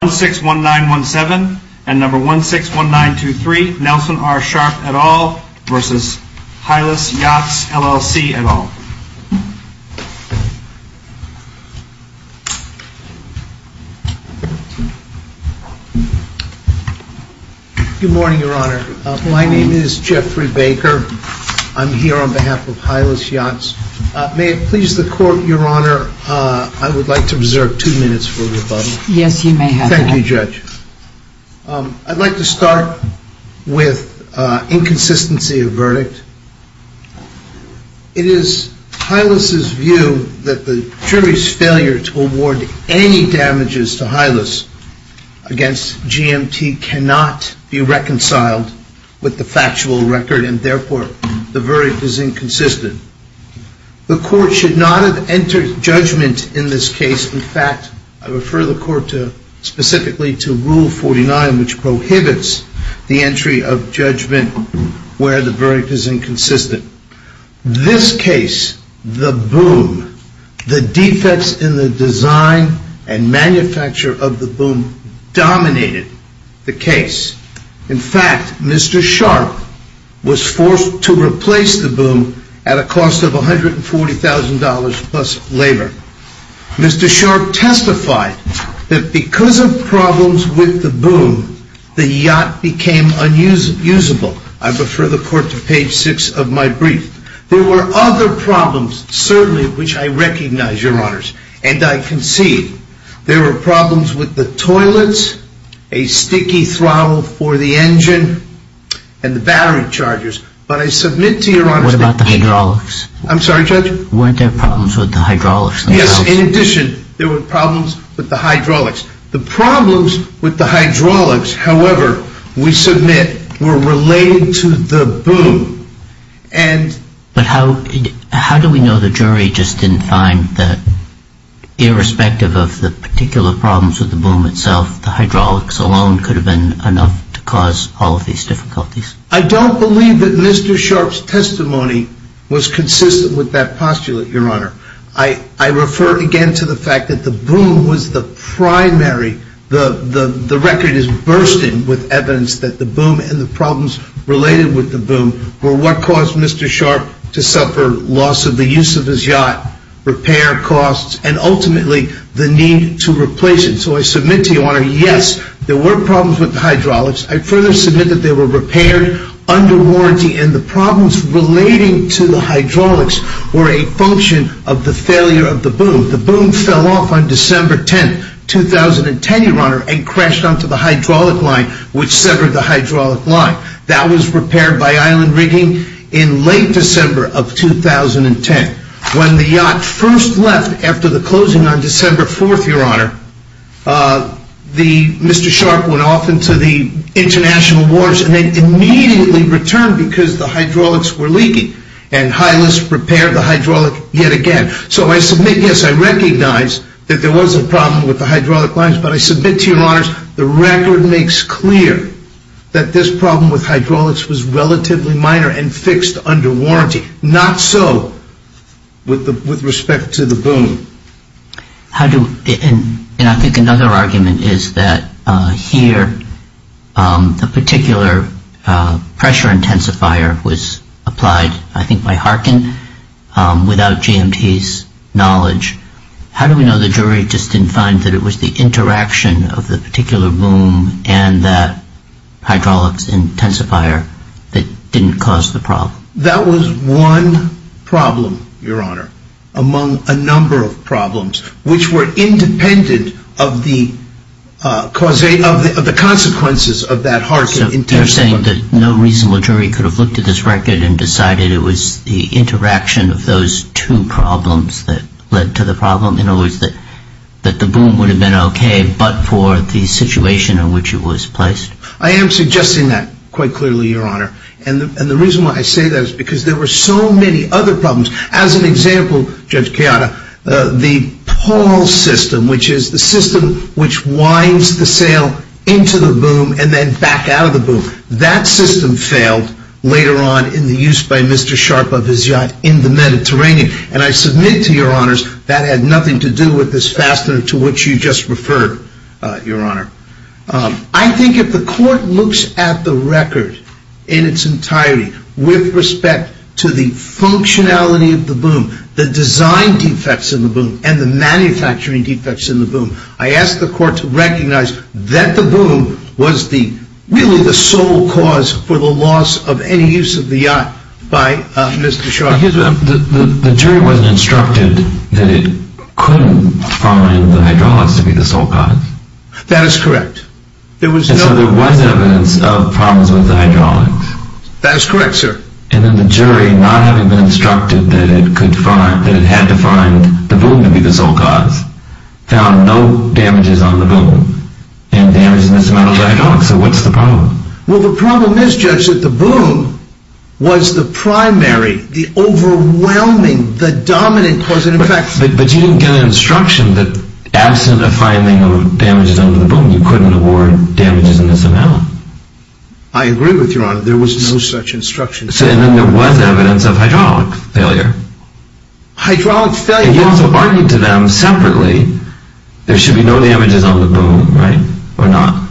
161917 and number 161923 Nelson R. Sharp et al. versus Hylas Yachts, LLC et al. Good morning, Your Honor. My name is Jeffrey Baker. I'm here on behalf of Hylas Yachts. May it please the Court, Your Honor, I would like to reserve two minutes for rebuttal. Yes, you may have it. Thank you, Judge. I'd like to start with inconsistency of verdict. It is Hylas' view that the jury's failure to award any damages to Hylas against GMT cannot be reconciled with the factual record, and therefore the verdict is inconsistent. The Court should not have entered judgment in this case. In fact, I refer the Court specifically to Rule 49, which prohibits the entry of judgment where the verdict is inconsistent. This case, the boom, the defects in the design and manufacture of the boom dominated the case. In fact, Mr. Sharp was forced to replace the boom at a cost of $140,000 plus labor. Mr. Sharp testified that because of problems with the boom, the yacht became unusable. I refer the Court to page 6 of my brief. There were other problems, certainly, which I recognize, Your Honors, and I concede. There were problems with the toilets, a sticky throttle for the engine, and the battery chargers. But I submit to Your Honors... What about the hydraulics? I'm sorry, Judge? Weren't there problems with the hydraulics? Yes, in addition, there were problems with the hydraulics. The problems with the hydraulics, however, we submit, were related to the boom, and... But how do we know the jury just didn't find that, irrespective of the particular problems with the boom itself, the hydraulics alone could have been enough to cause all of these difficulties? I don't believe that Mr. Sharp's testimony was consistent with that postulate, Your Honor. I refer again to the fact that the boom was the primary... The record is bursting with evidence that the boom and the problems related with the boom were what caused Mr. Sharp to suffer loss of the use of his yacht, repair costs, and ultimately, the need to replace it. So I submit to Your Honor, yes, there were problems with the hydraulics. I further submit that they were repaired under warranty, and the problems relating to the hydraulics were a function of the failure of the boom. The boom fell off on December 10, 2010, Your Honor, and crashed onto the hydraulic line, which severed the hydraulic line. That was repaired by island rigging in late December of 2010. When the yacht first left after the closing on December 4th, Your Honor, Mr. Sharp went off into the international waters, and then immediately returned because the hydraulics were leaking, and Hylus repaired the hydraulic yet again. So I submit, yes, I recognize that there was a problem with the hydraulic lines, but I submit to Your Honor, the record makes clear that this problem with hydraulics was relatively minor and fixed under warranty. Not so with respect to the boom. And I think another argument is that here, a particular pressure intensifier was applied, I think by Harkin, without GMT's knowledge. How do we know the jury just didn't find that it was the interaction of the particular boom and that hydraulics intensifier that didn't cause the problem? That was one problem, Your Honor, among a number of problems, which were independent of the consequences of that Harkin intensifier. So you're saying that no reasonable jury could have looked at this record and decided it was the interaction of those two problems that led to the problem? In other words, that the boom would have been okay, but for the situation in which it was placed? I am suggesting that quite clearly, Your Honor. And the reason why I say that is because there were so many other problems. As an example, Judge Keada, the Paul system, which is the system which winds the sail into the boom and then back out of the boom, that system failed later on in the use by Mr. Sharpe of his yacht in the Mediterranean. And I submit to Your Honors, that had nothing to do with this fastener to which you just referred, Your Honor. I think if the court looks at the record in its entirety, with respect to the functionality of the boom, the design defects in the boom, and the manufacturing defects in the boom, I ask the court to recognize that the boom was really the sole cause for the loss of any use of the yacht by Mr. Sharpe. The jury wasn't instructed that it couldn't find the hydraulics to be the sole cause? That is correct. And so there was evidence of problems with the hydraulics? That is correct, sir. And then the jury, not having been instructed that it had to find the boom to be the sole cause, found no damages on the boom and damage in this amount of the hydraulics. So what's the problem? Well, the problem is, Judge, that the boom was the primary, the overwhelming, the dominant cause and effect. But you didn't get an instruction that, absent a finding of damages under the boom, you couldn't award damages in this amount? I agree with Your Honor. There was no such instruction. And then there was evidence of hydraulic failure? Hydraulic failure. And you also argued to them, separately, there should be no damages on the boom, right? Or not?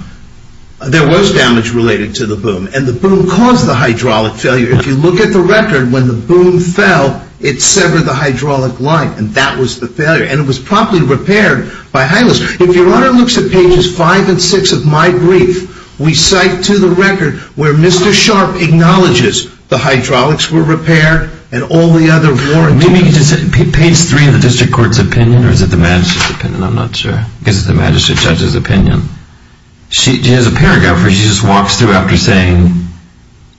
There was damage related to the boom, and the boom caused the hydraulic failure. If you look at the record, when the boom fell, it severed the hydraulic line, and that was the failure. And it was promptly repaired by Hylas. If Your Honor looks at pages 5 and 6 of my brief, we cite to the record where Mr. Sharpe acknowledges the hydraulics were repaired and all the other warrants. Page 3 of the District Court's opinion, or is it the Magistrate's opinion? I'm not sure. I guess it's the Magistrate Judge's opinion. She has a paragraph where she just walks through after saying,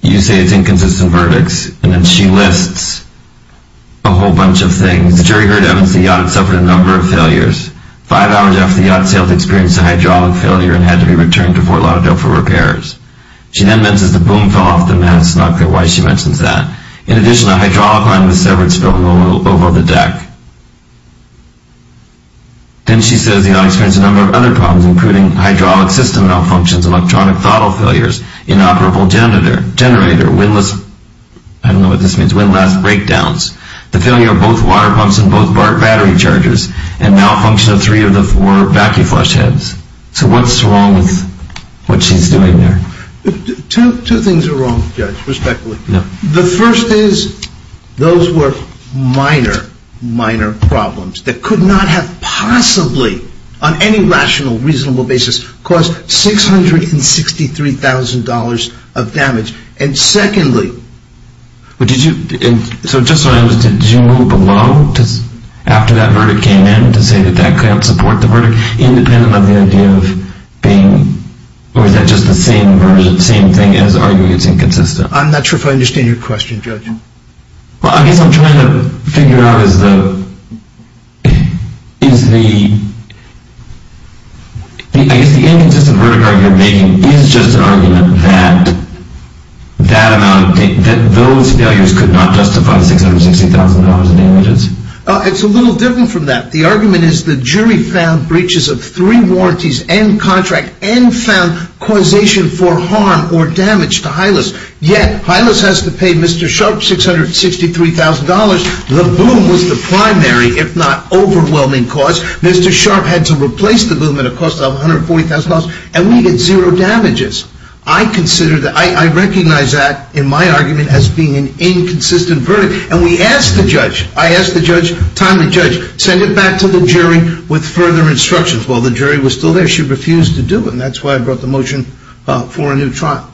you say it's inconsistent verdicts. And then she lists a whole bunch of things. The jury heard evidence the yacht had suffered a number of failures. Five hours after the yacht sailed, it experienced a hydraulic failure and had to be returned to Fort Lauderdale for repairs. She then mentions the boom fell off the mast and not clear why she mentions that. In addition, the hydraulic line was severed and spilled all over the deck. Then she says the yacht experienced a number of other problems, including hydraulic system malfunctions, electronic throttle failures, inoperable generator, windlass, I don't know what this means, windlass breakdowns, the failure of both water pumps and both battery chargers, and malfunction of three of the four vacu-flush heads. So what's wrong with what she's doing there? Two things are wrong, Judge, respectfully. The first is, those were minor, minor problems that could not have possibly, on any rational, reasonable basis, caused $663,000 of damage. And secondly... So just so I understand, did you move along after that verdict came in to say that that can't support the verdict, independent of the idea of being... Or is that just the same thing as arguing it's inconsistent? I'm not sure if I understand your question, Judge. Well, I guess I'm trying to figure out, is the... I guess the inconsistent verdict argument you're making is just an argument that those failures could not justify the $660,000 of damages? It's a little different from that. The argument is the jury found breaches of three warranties and contract, and found causation for harm or damage to Hylus. Yet, Hylus has to pay Mr. Sharp $663,000. The boom was the primary, if not overwhelming, cause. Mr. Sharp had to replace the boom at a cost of $140,000, and we get zero damages. I consider that... I recognize that, in my argument, as being an inconsistent verdict. And we asked the judge, I asked the judge, time to judge. Send it back to the jury with further instructions. Well, the jury was still there. She refused to do it, and that's why I brought the motion for a new trial.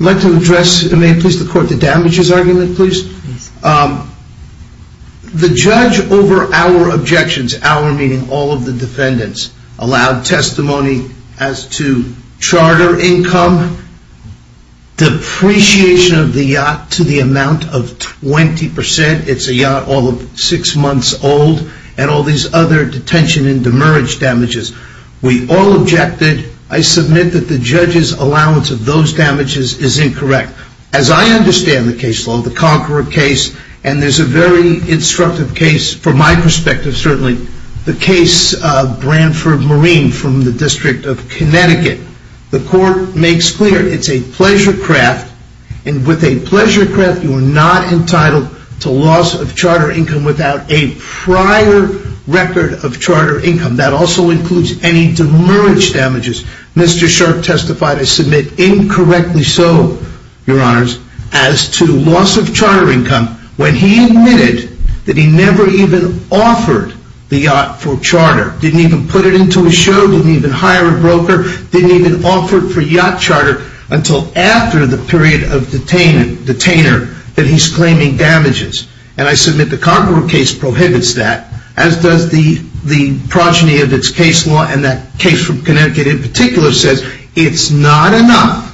I'd like to address, if I may please, the damages argument, please. The judge, over our objections, our meaning all of the defendants, allowed testimony as to charter income, depreciation of the yacht to the amount of 20%. It's a yacht all of six months old, and all these other detention and demerit damages. We all objected. I submit that the judge's allowance of those damages is incorrect. As I understand the case law, the Conqueror case, and there's a very instructive case, from my perspective, certainly, the case of Branford Marine from the District of Connecticut. The court makes clear it's a pleasure craft, and with a pleasure craft, you are not entitled to loss of charter income without a prior record of charter income. That also includes any demerit damages. Mr. Scharf testified, I submit, incorrectly so, your honors, as to loss of charter income when he admitted that he never even offered the yacht for charter. Didn't even put it into a show, didn't even hire a broker, didn't even offer it for yacht charter until after the period of detainment, detainer, that he's claiming damages. And I submit the Conqueror case prohibits that, as does the progeny of its case law, and that case from Connecticut in particular says, it's not enough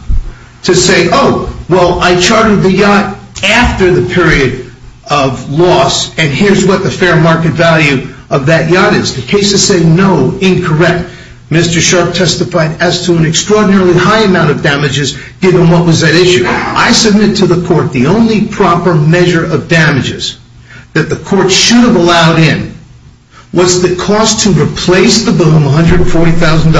to say, oh, well, I chartered the yacht after the period of loss, and here's what the fair market value of that yacht is. The case is saying, no, incorrect. Mr. Scharf testified as to an extraordinarily high amount of damages, given what was at issue. I submit to the court the only proper measure of damages that the court should have allowed in was the cost to replace the boom, $140,000,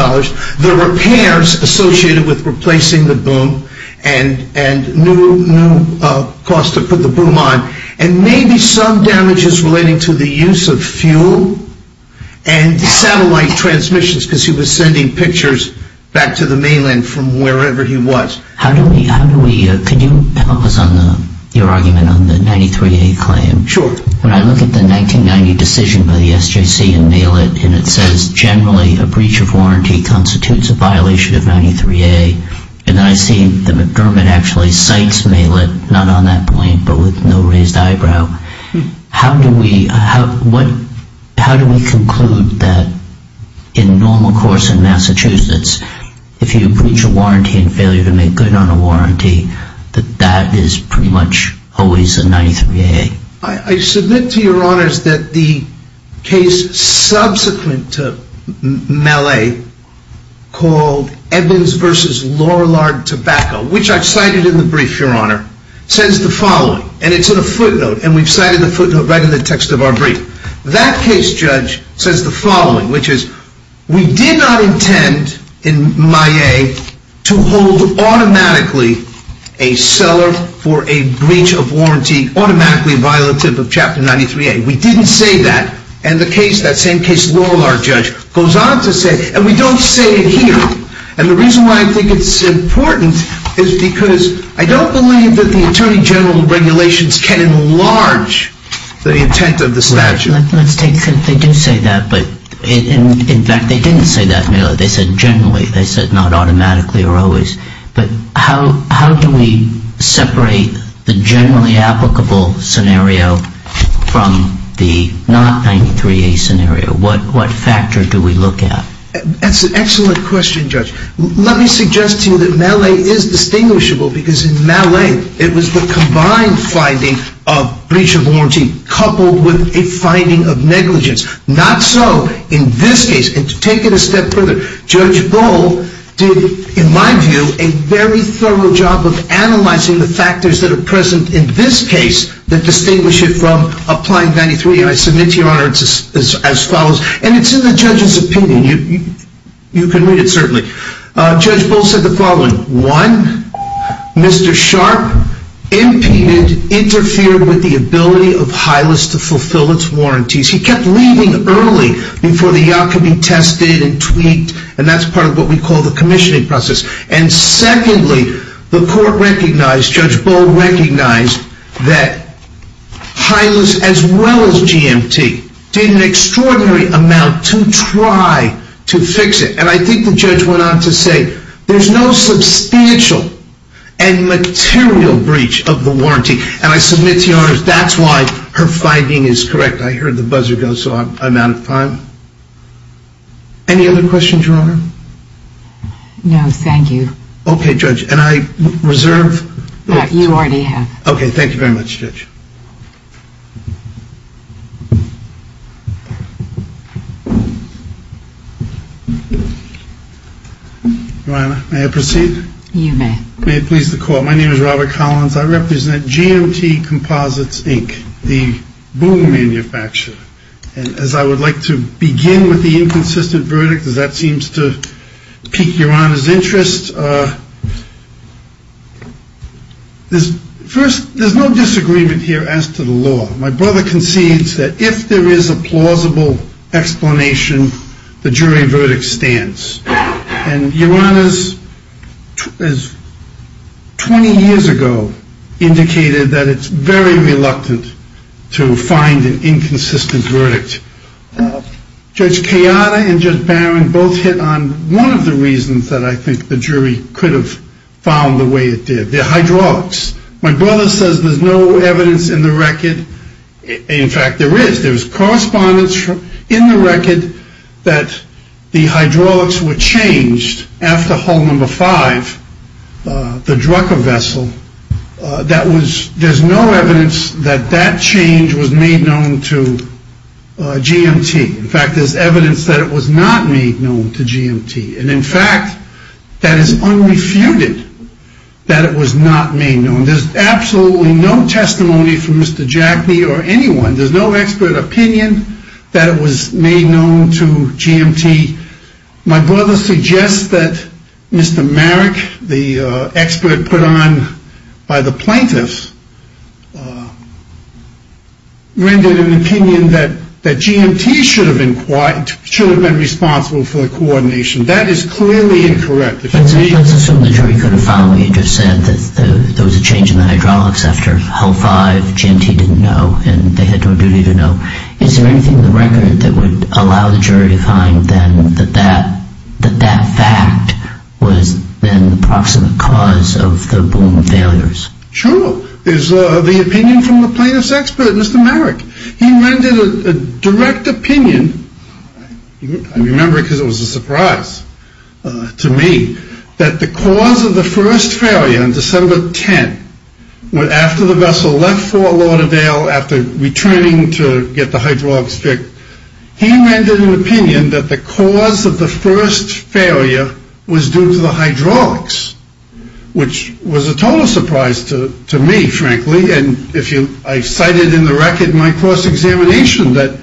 the repairs associated with replacing the boom, and new costs to put the boom on, and maybe some damages relating to the use of fuel and satellite transmissions, because he was sending pictures back to the mainland from wherever he was. How do we, how do we, can you help us on the, your argument on the 93A claim? Sure. I submit to your honors that the case subsequent to Mallet called Evans versus Lorillard tobacco, which I cited in the brief, your honor, says the following, and it's in a footnote, and we've cited the footnote right in the text of our brief. That case, Judge, says the following, which is, we did not intend in Mallet to hold automatically a seller for a breach of warranty automatically violative of Chapter 93A. We didn't say that, and the case, that same case, Lorillard Judge, goes on to say, and we don't say it here. And the reason why I think it's important is because I don't believe that the Attorney General's regulations can enlarge the intent of the statute. Let's take, they do say that, but in fact, they didn't say that, Miller. They said generally. They said not automatically or always. But how do we separate the generally applicable scenario from the not 93A scenario? What factor do we look at? That's an excellent question, Judge. Let me suggest to you that Mallet is distinguishable because in Mallet, it was the combined finding of breach of warranty coupled with a finding of negligence. Not so in this case. And to take it a step further, Judge Bull did, in my view, a very thorough job of analyzing the factors that are present in this case that distinguish it from applying 93A. Let me submit to you, Your Honor, as follows. And it's in the judge's opinion. You can read it, certainly. Judge Bull said the following. One, Mr. Sharp impeded, interfered with the ability of HILAS to fulfill its warranties. He kept leaving early before the yacht could be tested and tweaked, and that's part of what we call the commissioning process. And secondly, the court recognized, Judge Bull recognized, that HILAS as well as GMT did an extraordinary amount to try to fix it. And I think the judge went on to say there's no substantial and material breach of the warranty. And I submit to you, Your Honor, that's why her finding is correct. I heard the buzzer go, so I'm out of time. Any other questions, Your Honor? No, thank you. Okay, Judge. And I reserve the floor to you. You already have. Okay. Thank you very much, Judge. Your Honor, may I proceed? You may. May it please the Court. My name is Robert Collins. I represent GMT Composites, Inc., the Bull manufacturer. And as I would like to begin with the inconsistent verdict, as that seems to pique Your Honor's interest, first, there's no disagreement here as to the law. My brother concedes that if there is a plausible explanation, the jury verdict stands. And Your Honor's 20 years ago indicated that it's very reluctant to find an inconsistent verdict. Judge Kayana and Judge Barron both hit on one of the reasons that I think the jury could have found the way it did. The hydraulics. My brother says there's no evidence in the record. In fact, there is. There's correspondence in the record that the hydraulics were changed after hull number five, the Drucker vessel. There's no evidence that that change was made known to GMT. In fact, there's evidence that it was not made known to GMT. And, in fact, that is unrefuted, that it was not made known. There's absolutely no testimony from Mr. Jackney or anyone. There's no expert opinion that it was made known to GMT. My brother suggests that Mr. Merrick, the expert put on by the plaintiffs, rendered an opinion that GMT should have been responsible for the coordination. That is clearly incorrect. Let's assume the jury could have found what you just said, that there was a change in the hydraulics after hull five. GMT didn't know, and they had no duty to know. Is there anything in the record that would allow the jury to find that that fact was then the proximate cause of the boom failures? Sure. There's the opinion from the plaintiff's expert, Mr. Merrick. He rendered a direct opinion. I remember it because it was a surprise to me, that the cause of the first failure on December 10, after the vessel left Fort Lauderdale, after returning to get the hydraulics fixed, he rendered an opinion that the cause of the first failure was due to the hydraulics, which was a total surprise to me, frankly. And I cited in the record my cross-examination that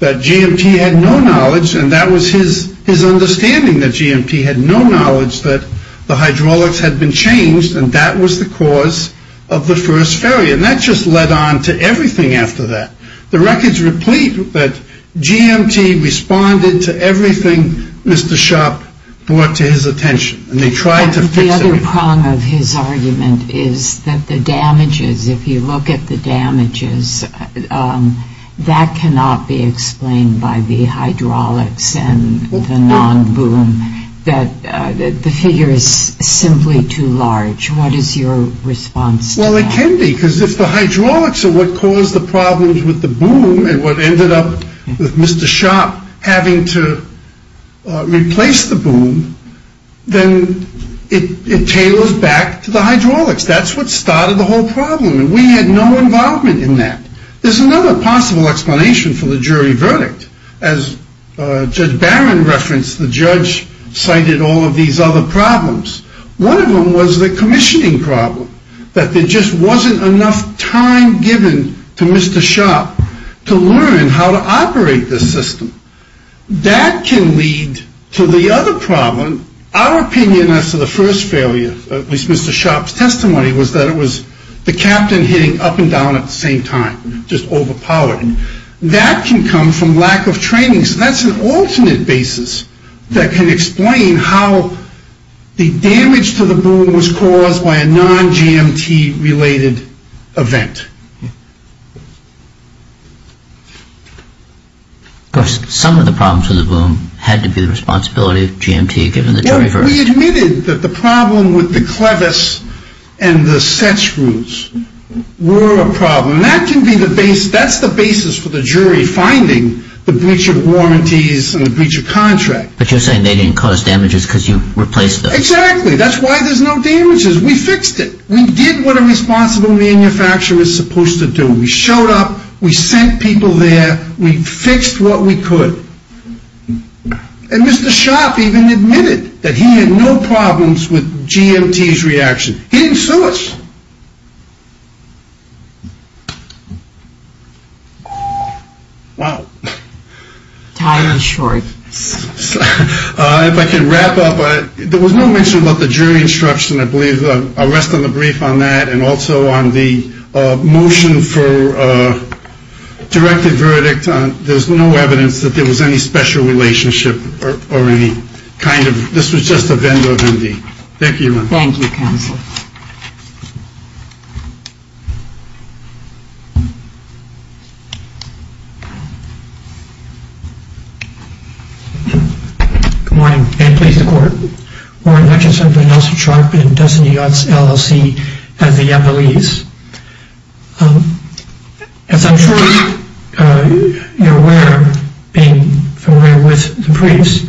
GMT had no knowledge, and that was his understanding, that GMT had no knowledge that the hydraulics had been changed, and that was the cause of the first failure. And that just led on to everything after that. The records repeat that GMT responded to everything Mr. Sharp brought to his attention, and they tried to fix everything. The other prong of his argument is that the damages, if you look at the damages, that cannot be explained by the hydraulics and the non-boom, that the figure is simply too large. What is your response to that? Well, it can be, because if the hydraulics are what caused the problems with the boom, and what ended up with Mr. Sharp having to replace the boom, then it tailors back to the hydraulics. That's what started the whole problem, and we had no involvement in that. There's another possible explanation for the jury verdict. As Judge Barron referenced, the judge cited all of these other problems. One of them was the commissioning problem, that there just wasn't enough time given to Mr. Sharp to learn how to operate this system. That can lead to the other problem. Our opinion as to the first failure, at least Mr. Sharp's testimony, was that it was the captain hitting up and down at the same time, just overpowering. That can come from lack of training. That's an alternate basis that can explain how the damage to the boom was caused by a non-GMT-related event. Some of the problems with the boom had to be the responsibility of GMT, given the jury verdict. We admitted that the problem with the clevis and the set screws were a problem. That's the basis for the jury finding the breach of warranties and the breach of contract. But you're saying they didn't cause damages because you replaced them. Exactly. That's why there's no damages. We fixed it. We did what a responsible manufacturer is supposed to do. We showed up, we sent people there, we fixed what we could. And Mr. Sharp even admitted that he had no problems with GMT's reaction. He didn't sue us. Wow. Time is short. If I can wrap up, there was no mention about the jury instruction, I believe. I'll rest on the brief on that and also on the motion for directed verdict. There's no evidence that there was any special relationship or any kind of... This was just a vendor of MD. Thank you. Thank you, counsel. Good morning, and please, the court. Warren Hutchinson for Nelson Sharp in Destiny LLC as the appellees. As I'm sure you're aware, being familiar with the briefs,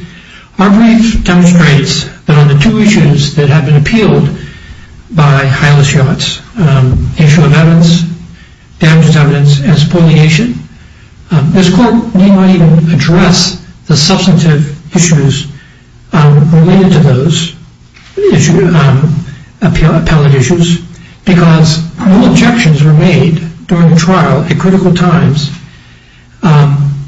our brief demonstrates that on the two issues that have been appealed by Highless Yachts, the issue of evidence, damaged evidence, and spoliation, this court may not even address the substantive issues related to those appellate issues because no objections were made during the trial at critical times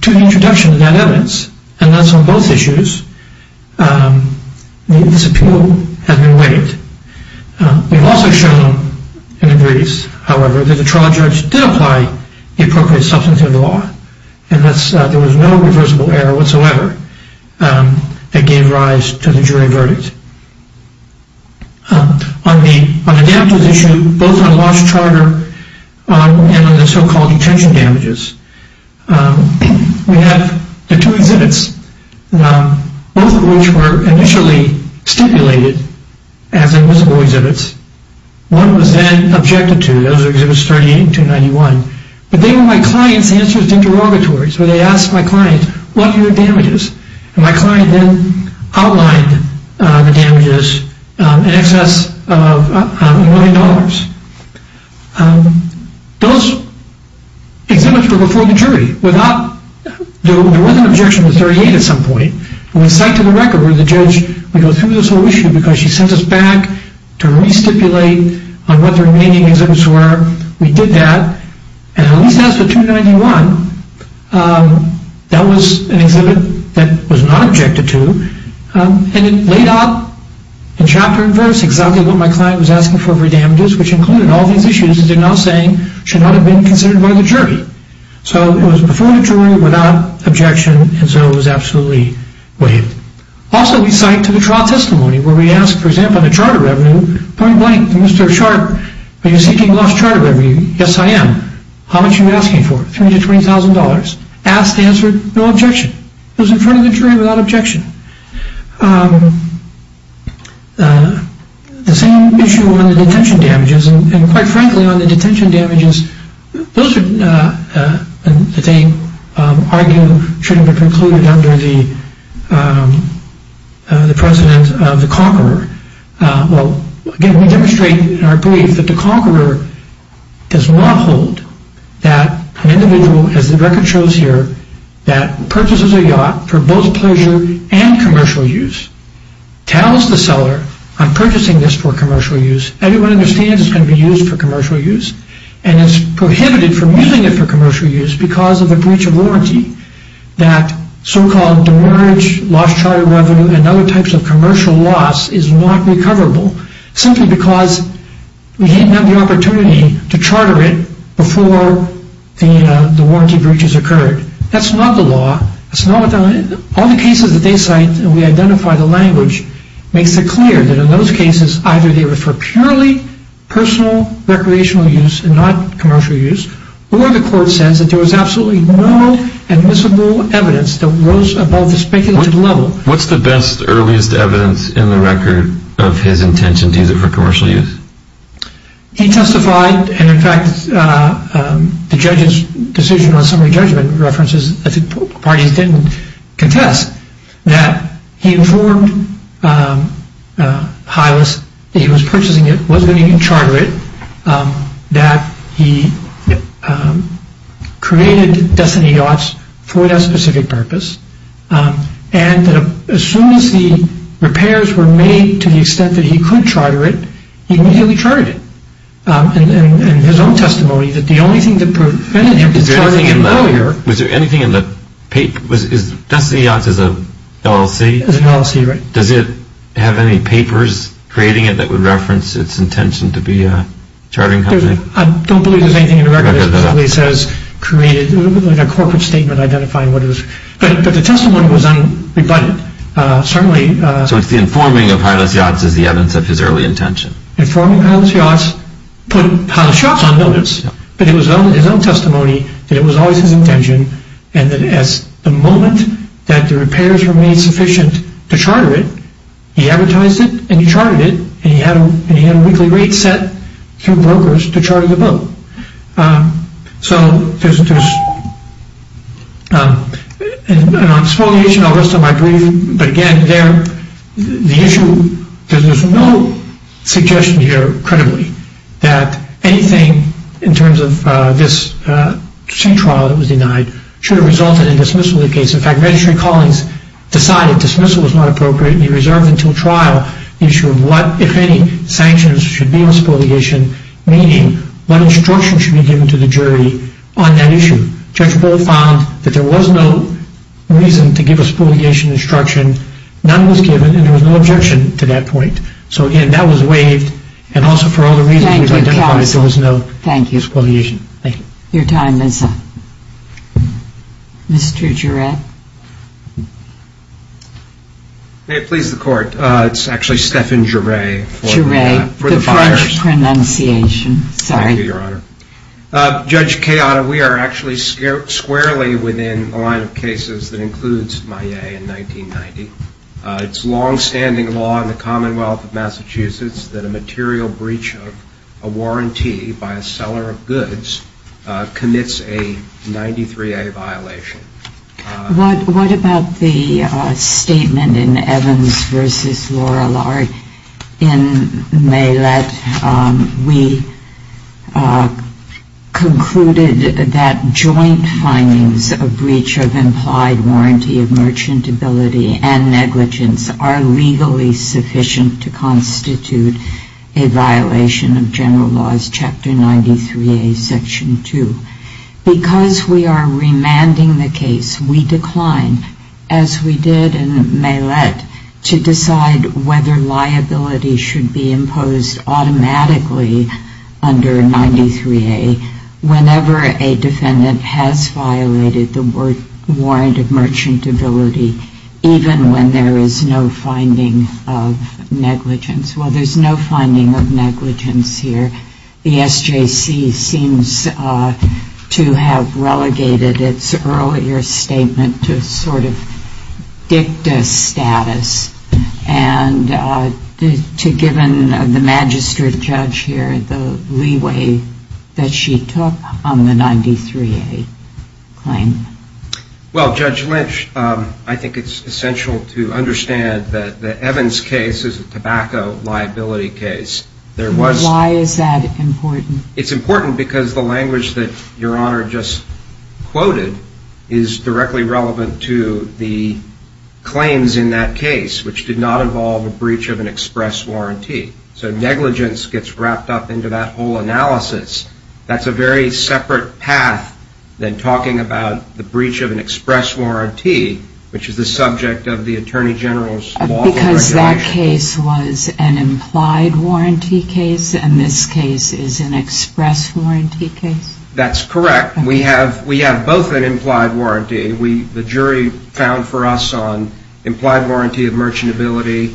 to the introduction of that evidence, and that's on both issues. This appeal has been weighed. We've also shown in the briefs, however, that the trial judge did apply the appropriate substantive law, and there was no reversible error whatsoever that gave rise to the jury verdict. On the damages issue, both on large charter and on the so-called detention damages, we have the two exhibits, both of which were initially stipulated as invisible exhibits. One was then objected to. Those are Exhibits 38 and 291, but they were my client's answers to interrogatories where they asked my client, what are your damages? And my client then outlined the damages in excess of a million dollars. Those exhibits were before the jury. There was an objection to 38 at some point, and we cite to the record where the judge would go through this whole issue because she sent us back to restipulate on what the remaining exhibits were. We did that, and at least as for 291, that was an exhibit that was not objected to, and it laid out in chapter and verse exactly what my client was asking for for damages, which included all these issues that they're now saying should not have been considered by the jury. So it was before the jury without objection, and so it was absolutely waived. Also, we cite to the trial testimony where we ask, for example, on the charter revenue, point blank, Mr. Sharp, are you seeking lost charter revenue? Yes, I am. How much are you asking for? $3,000 to $20,000. Asked, answered, no objection. It was in front of the jury without objection. The same issue on the detention damages, and quite frankly on the detention damages, those that they argue shouldn't be precluded under the precedent of the conqueror. Well, again, we demonstrate in our brief that the conqueror does not hold that an individual, as the record shows here, that purchases a yacht for both pleasure and commercial use, tells the seller, I'm purchasing this for commercial use, everyone understands it's going to be used for commercial use, and is prohibited from using it for commercial use because of a breach of warranty, that so-called demerged lost charter revenue and other types of commercial loss is not recoverable, simply because we didn't have the opportunity to charter it before the warranty breaches occurred. That's not the law. All the cases that they cite, and we identify the language, makes it clear that in those cases either they were for purely personal recreational use and not commercial use, or the court says that there was absolutely no admissible evidence that rose above the speculative level. What's the best, earliest evidence in the record of his intention to use it for commercial use? He testified, and in fact the judge's decision on summary judgment references, I think parties didn't contest, that he informed Hylas that he was purchasing it, wasn't going to even charter it, that he created Destiny Yachts for that specific purpose, and that as soon as the repairs were made to the extent that he could charter it, he immediately chartered it. In his own testimony, that the only thing that prevented him from chartering it earlier... Was there anything in the paper? Destiny Yachts is a LLC? It's an LLC, right. Does it have any papers creating it that would reference its intention to be a chartering company? I don't believe there's anything in the record that specifically says created, like a corporate statement identifying what it was, but the testimony was unrebutted. So it's the informing of Hylas Yachts as the evidence of his early intention? Informing Hylas Yachts put Hylas Yachts on notice, but it was his own testimony that it was always his intention, and that as the moment that the repairs were made sufficient to charter it, he advertised it and he chartered it, and he had a weekly rate set through brokers to charter the boat. So there's... And on spoliation, I'll rest on my brief, but again, the issue... There's no suggestion here, credibly, that anything in terms of this same trial that was denied should have resulted in dismissal of the case. In fact, Registry of Callings decided dismissal was not appropriate, and he reserved until trial the issue of what, if any, sanctions should be on spoliation, meaning what instruction should be given to the jury on that issue. Judge Bull found that there was no reason to give a spoliation instruction. None was given, and there was no objection to that point. So again, that was waived, and also for all the reasons we've identified, there was no spoliation. Thank you. Your time is up. Mr. Juret? May it please the Court? It's actually Stephan Juret for the buyers. Your pronunciation, sorry. Thank you, Your Honor. Judge Kayotta, we are actually squarely within the line of cases that includes My A in 1990. It's longstanding law in the Commonwealth of Massachusetts that a material breach of a warranty by a seller of goods commits a 93A violation. What about the statement in Evans v. Lorillard in Maylett? We concluded that joint findings of breach of implied warranty of merchantability and negligence are legally sufficient to constitute a violation of General Laws, Chapter 93A, Section 2. Because we are remanding the case, we decline, as we did in Maylett, to decide whether liability should be imposed automatically under 93A whenever a defendant has violated the warrant of merchantability, even when there is no finding of negligence. Well, there's no finding of negligence here. The SJC seems to have relegated its earlier statement to sort of dicta status and to given the magistrate judge here the leeway that she took on the 93A claim. Well, Judge Lynch, I think it's essential to understand that the Evans case is a tobacco liability case. Why is that important? It's important because the language that Your Honor just quoted is directly relevant to the claims in that case, which did not involve a breach of an express warranty. So negligence gets wrapped up into that whole analysis. That's a very separate path than talking about the breach of an express warranty, Because that case was an implied warranty case and this case is an express warranty case? That's correct. We have both an implied warranty. The jury found for us on implied warranty of merchantability,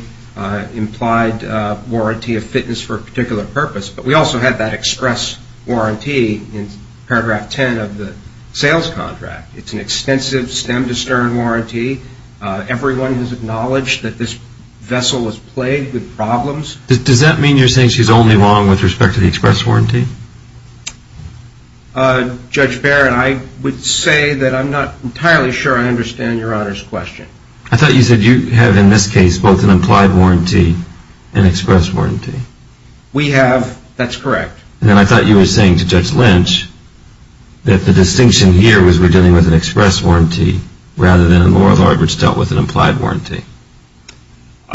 implied warranty of fitness for a particular purpose, but we also had that express warranty in Paragraph 10 of the sales contract. It's an extensive stem-to-stern warranty. Everyone has acknowledged that this vessel was plagued with problems. Does that mean you're saying she's only wrong with respect to the express warranty? Judge Barrett, I would say that I'm not entirely sure I understand Your Honor's question. I thought you said you have in this case both an implied warranty and express warranty. We have. That's correct. Then I thought you were saying to Judge Lynch that the distinction here was we're dealing with an express warranty rather than a moral arbitrage dealt with an implied warranty.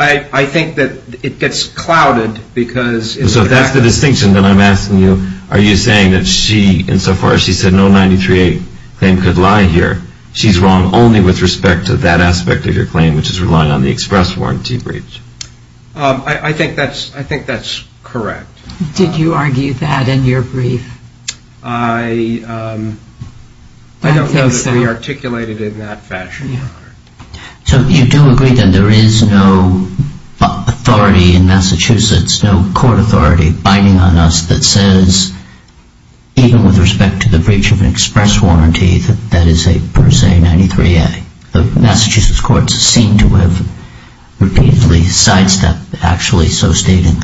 I think that it gets clouded because... So that's the distinction that I'm asking you. Are you saying that she, insofar as she said no 938 claim could lie here, she's wrong only with respect to that aspect of your claim, which is relying on the express warranty breach? I think that's correct. Did you argue that in your brief? I don't know that they articulated it in that fashion, Your Honor. So you do agree that there is no authority in Massachusetts, no court authority binding on us that says, even with respect to the breach of an express warranty, that that is a per se 938? The Massachusetts courts seem to have repeatedly sidestepped actually so stating.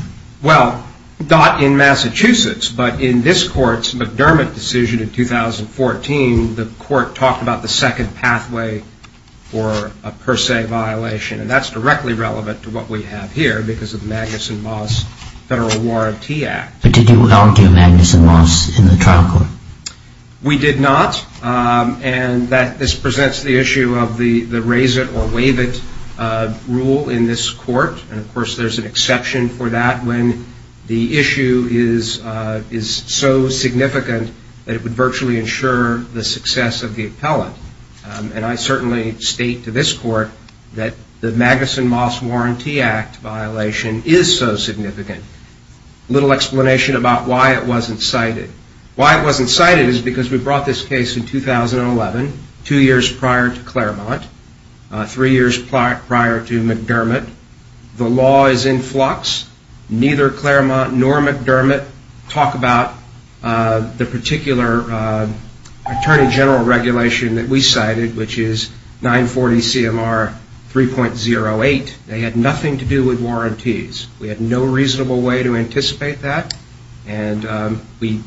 Well, not in Massachusetts, but in this court's McDermott decision in 2014, the court talked about the second pathway for a per se violation, and that's directly relevant to what we have here because of Magnuson-Moss Federal Warranty Act. But did you argue Magnuson-Moss in the trial court? We did not, and this presents the issue of the raise it or waive it rule in this court, and, of course, there's an exception for that when the issue is so significant that it would virtually ensure the success of the appellate. And I certainly state to this court that the Magnuson-Moss Warranty Act violation is so significant. A little explanation about why it wasn't cited. Why it wasn't cited is because we brought this case in 2011, two years prior to Claremont, three years prior to McDermott. The law is in flux. Neither Claremont nor McDermott talk about the particular attorney general regulation that we cited, which is 940CMR 3.08. They had nothing to do with warranties. We had no reasonable way to anticipate that, and we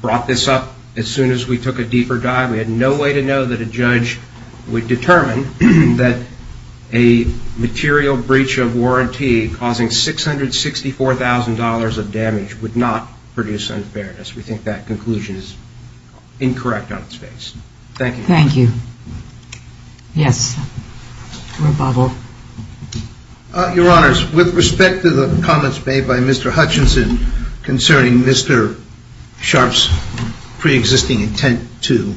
brought this up as soon as we took a deeper dive. We had no way to know that a judge would determine that a material breach of warranty causing $664,000 of damage would not produce unfairness. We think that conclusion is incorrect on its face. Thank you. Thank you. Yes, Rebobo. Your Honors, with respect to the comments made by Mr. Hutchinson concerning Mr. Sharpe's pre-existing intent to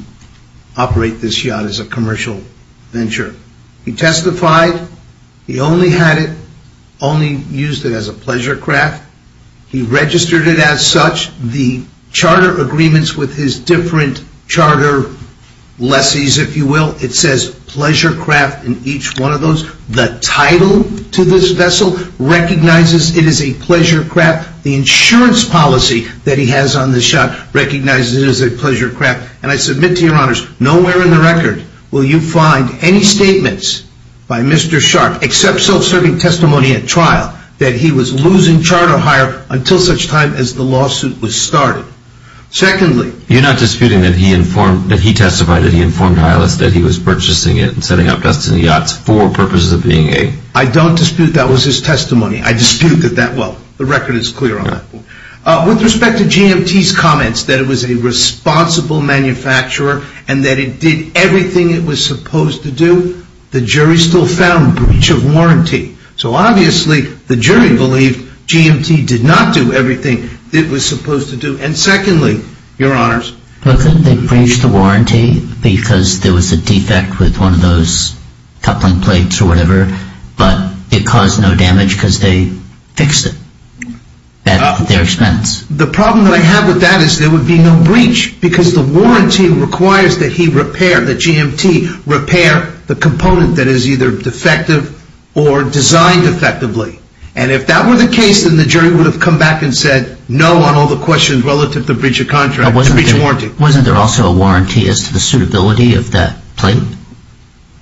operate this yacht as a commercial venture. He testified he only had it, only used it as a pleasure craft. He registered it as such. The charter agreements with his different charter lessees, if you will, it says pleasure craft in each one of those. The title to this vessel recognizes it as a pleasure craft. The insurance policy that he has on this yacht recognizes it as a pleasure craft. And I submit to your Honors, nowhere in the record will you find any statements by Mr. Sharpe, except self-serving testimony at trial, that he was losing charter hire until such time as the lawsuit was started. Secondly... You're not disputing that he testified that he informed ILS that he was purchasing it and setting up Dustin Yachts for purposes of being a... I don't dispute that was his testimony. I dispute that that, well, the record is clear on that. With respect to GMT's comments that it was a responsible manufacturer and that it did everything it was supposed to do, the jury still found breach of warranty. So obviously, the jury believed GMT did not do everything it was supposed to do. And secondly, your Honors... They breached the warranty because there was a defect with one of those coupling plates or whatever, but it caused no damage because they fixed it at their expense. The problem that I have with that is there would be no breach because the warranty requires that he repair, that GMT repair, the component that is either defective or designed defectively. And if that were the case, then the jury would have come back and said no on all the questions. Relative to breach of contract and breach of warranty. Wasn't there also a warranty as to the suitability of that plate?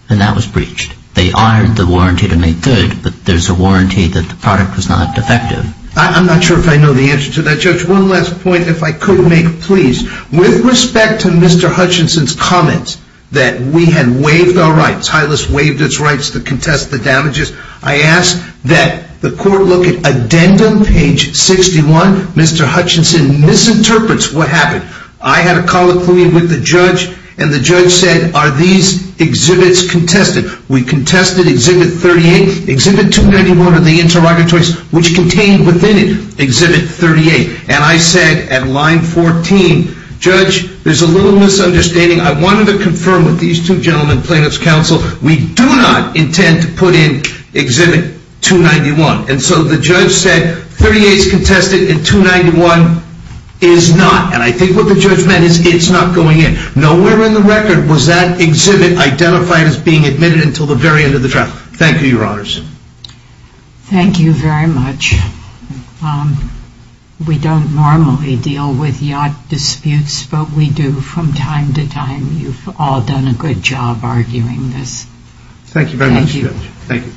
And that was breached. They honored the warranty to make good, but there's a warranty that the product was not defective. I'm not sure if I know the answer to that, Judge. One last point, if I could make, please. With respect to Mr. Hutchinson's comments that we had waived our rights, HILAS waived its rights to contest the damages, I ask that the court look at addendum page 61. Mr. Hutchinson misinterprets what happened. I had a colloquy with the judge, and the judge said, are these exhibits contested? We contested exhibit 38. Exhibit 291 of the interrogatories, which contained within it, exhibit 38. And I said at line 14, Judge, there's a little misunderstanding. I wanted to confirm with these two gentlemen, plaintiff's counsel, we do not intend to put in exhibit 291. And so the judge said 38 is contested and 291 is not. And I think what the judge meant is it's not going in. Nowhere in the record was that exhibit identified as being admitted until the very end of the trial. Thank you, Your Honors. Thank you very much. We don't normally deal with yacht disputes, but we do from time to time. You've all done a good job arguing this. Thank you very much, Judge. Thank you.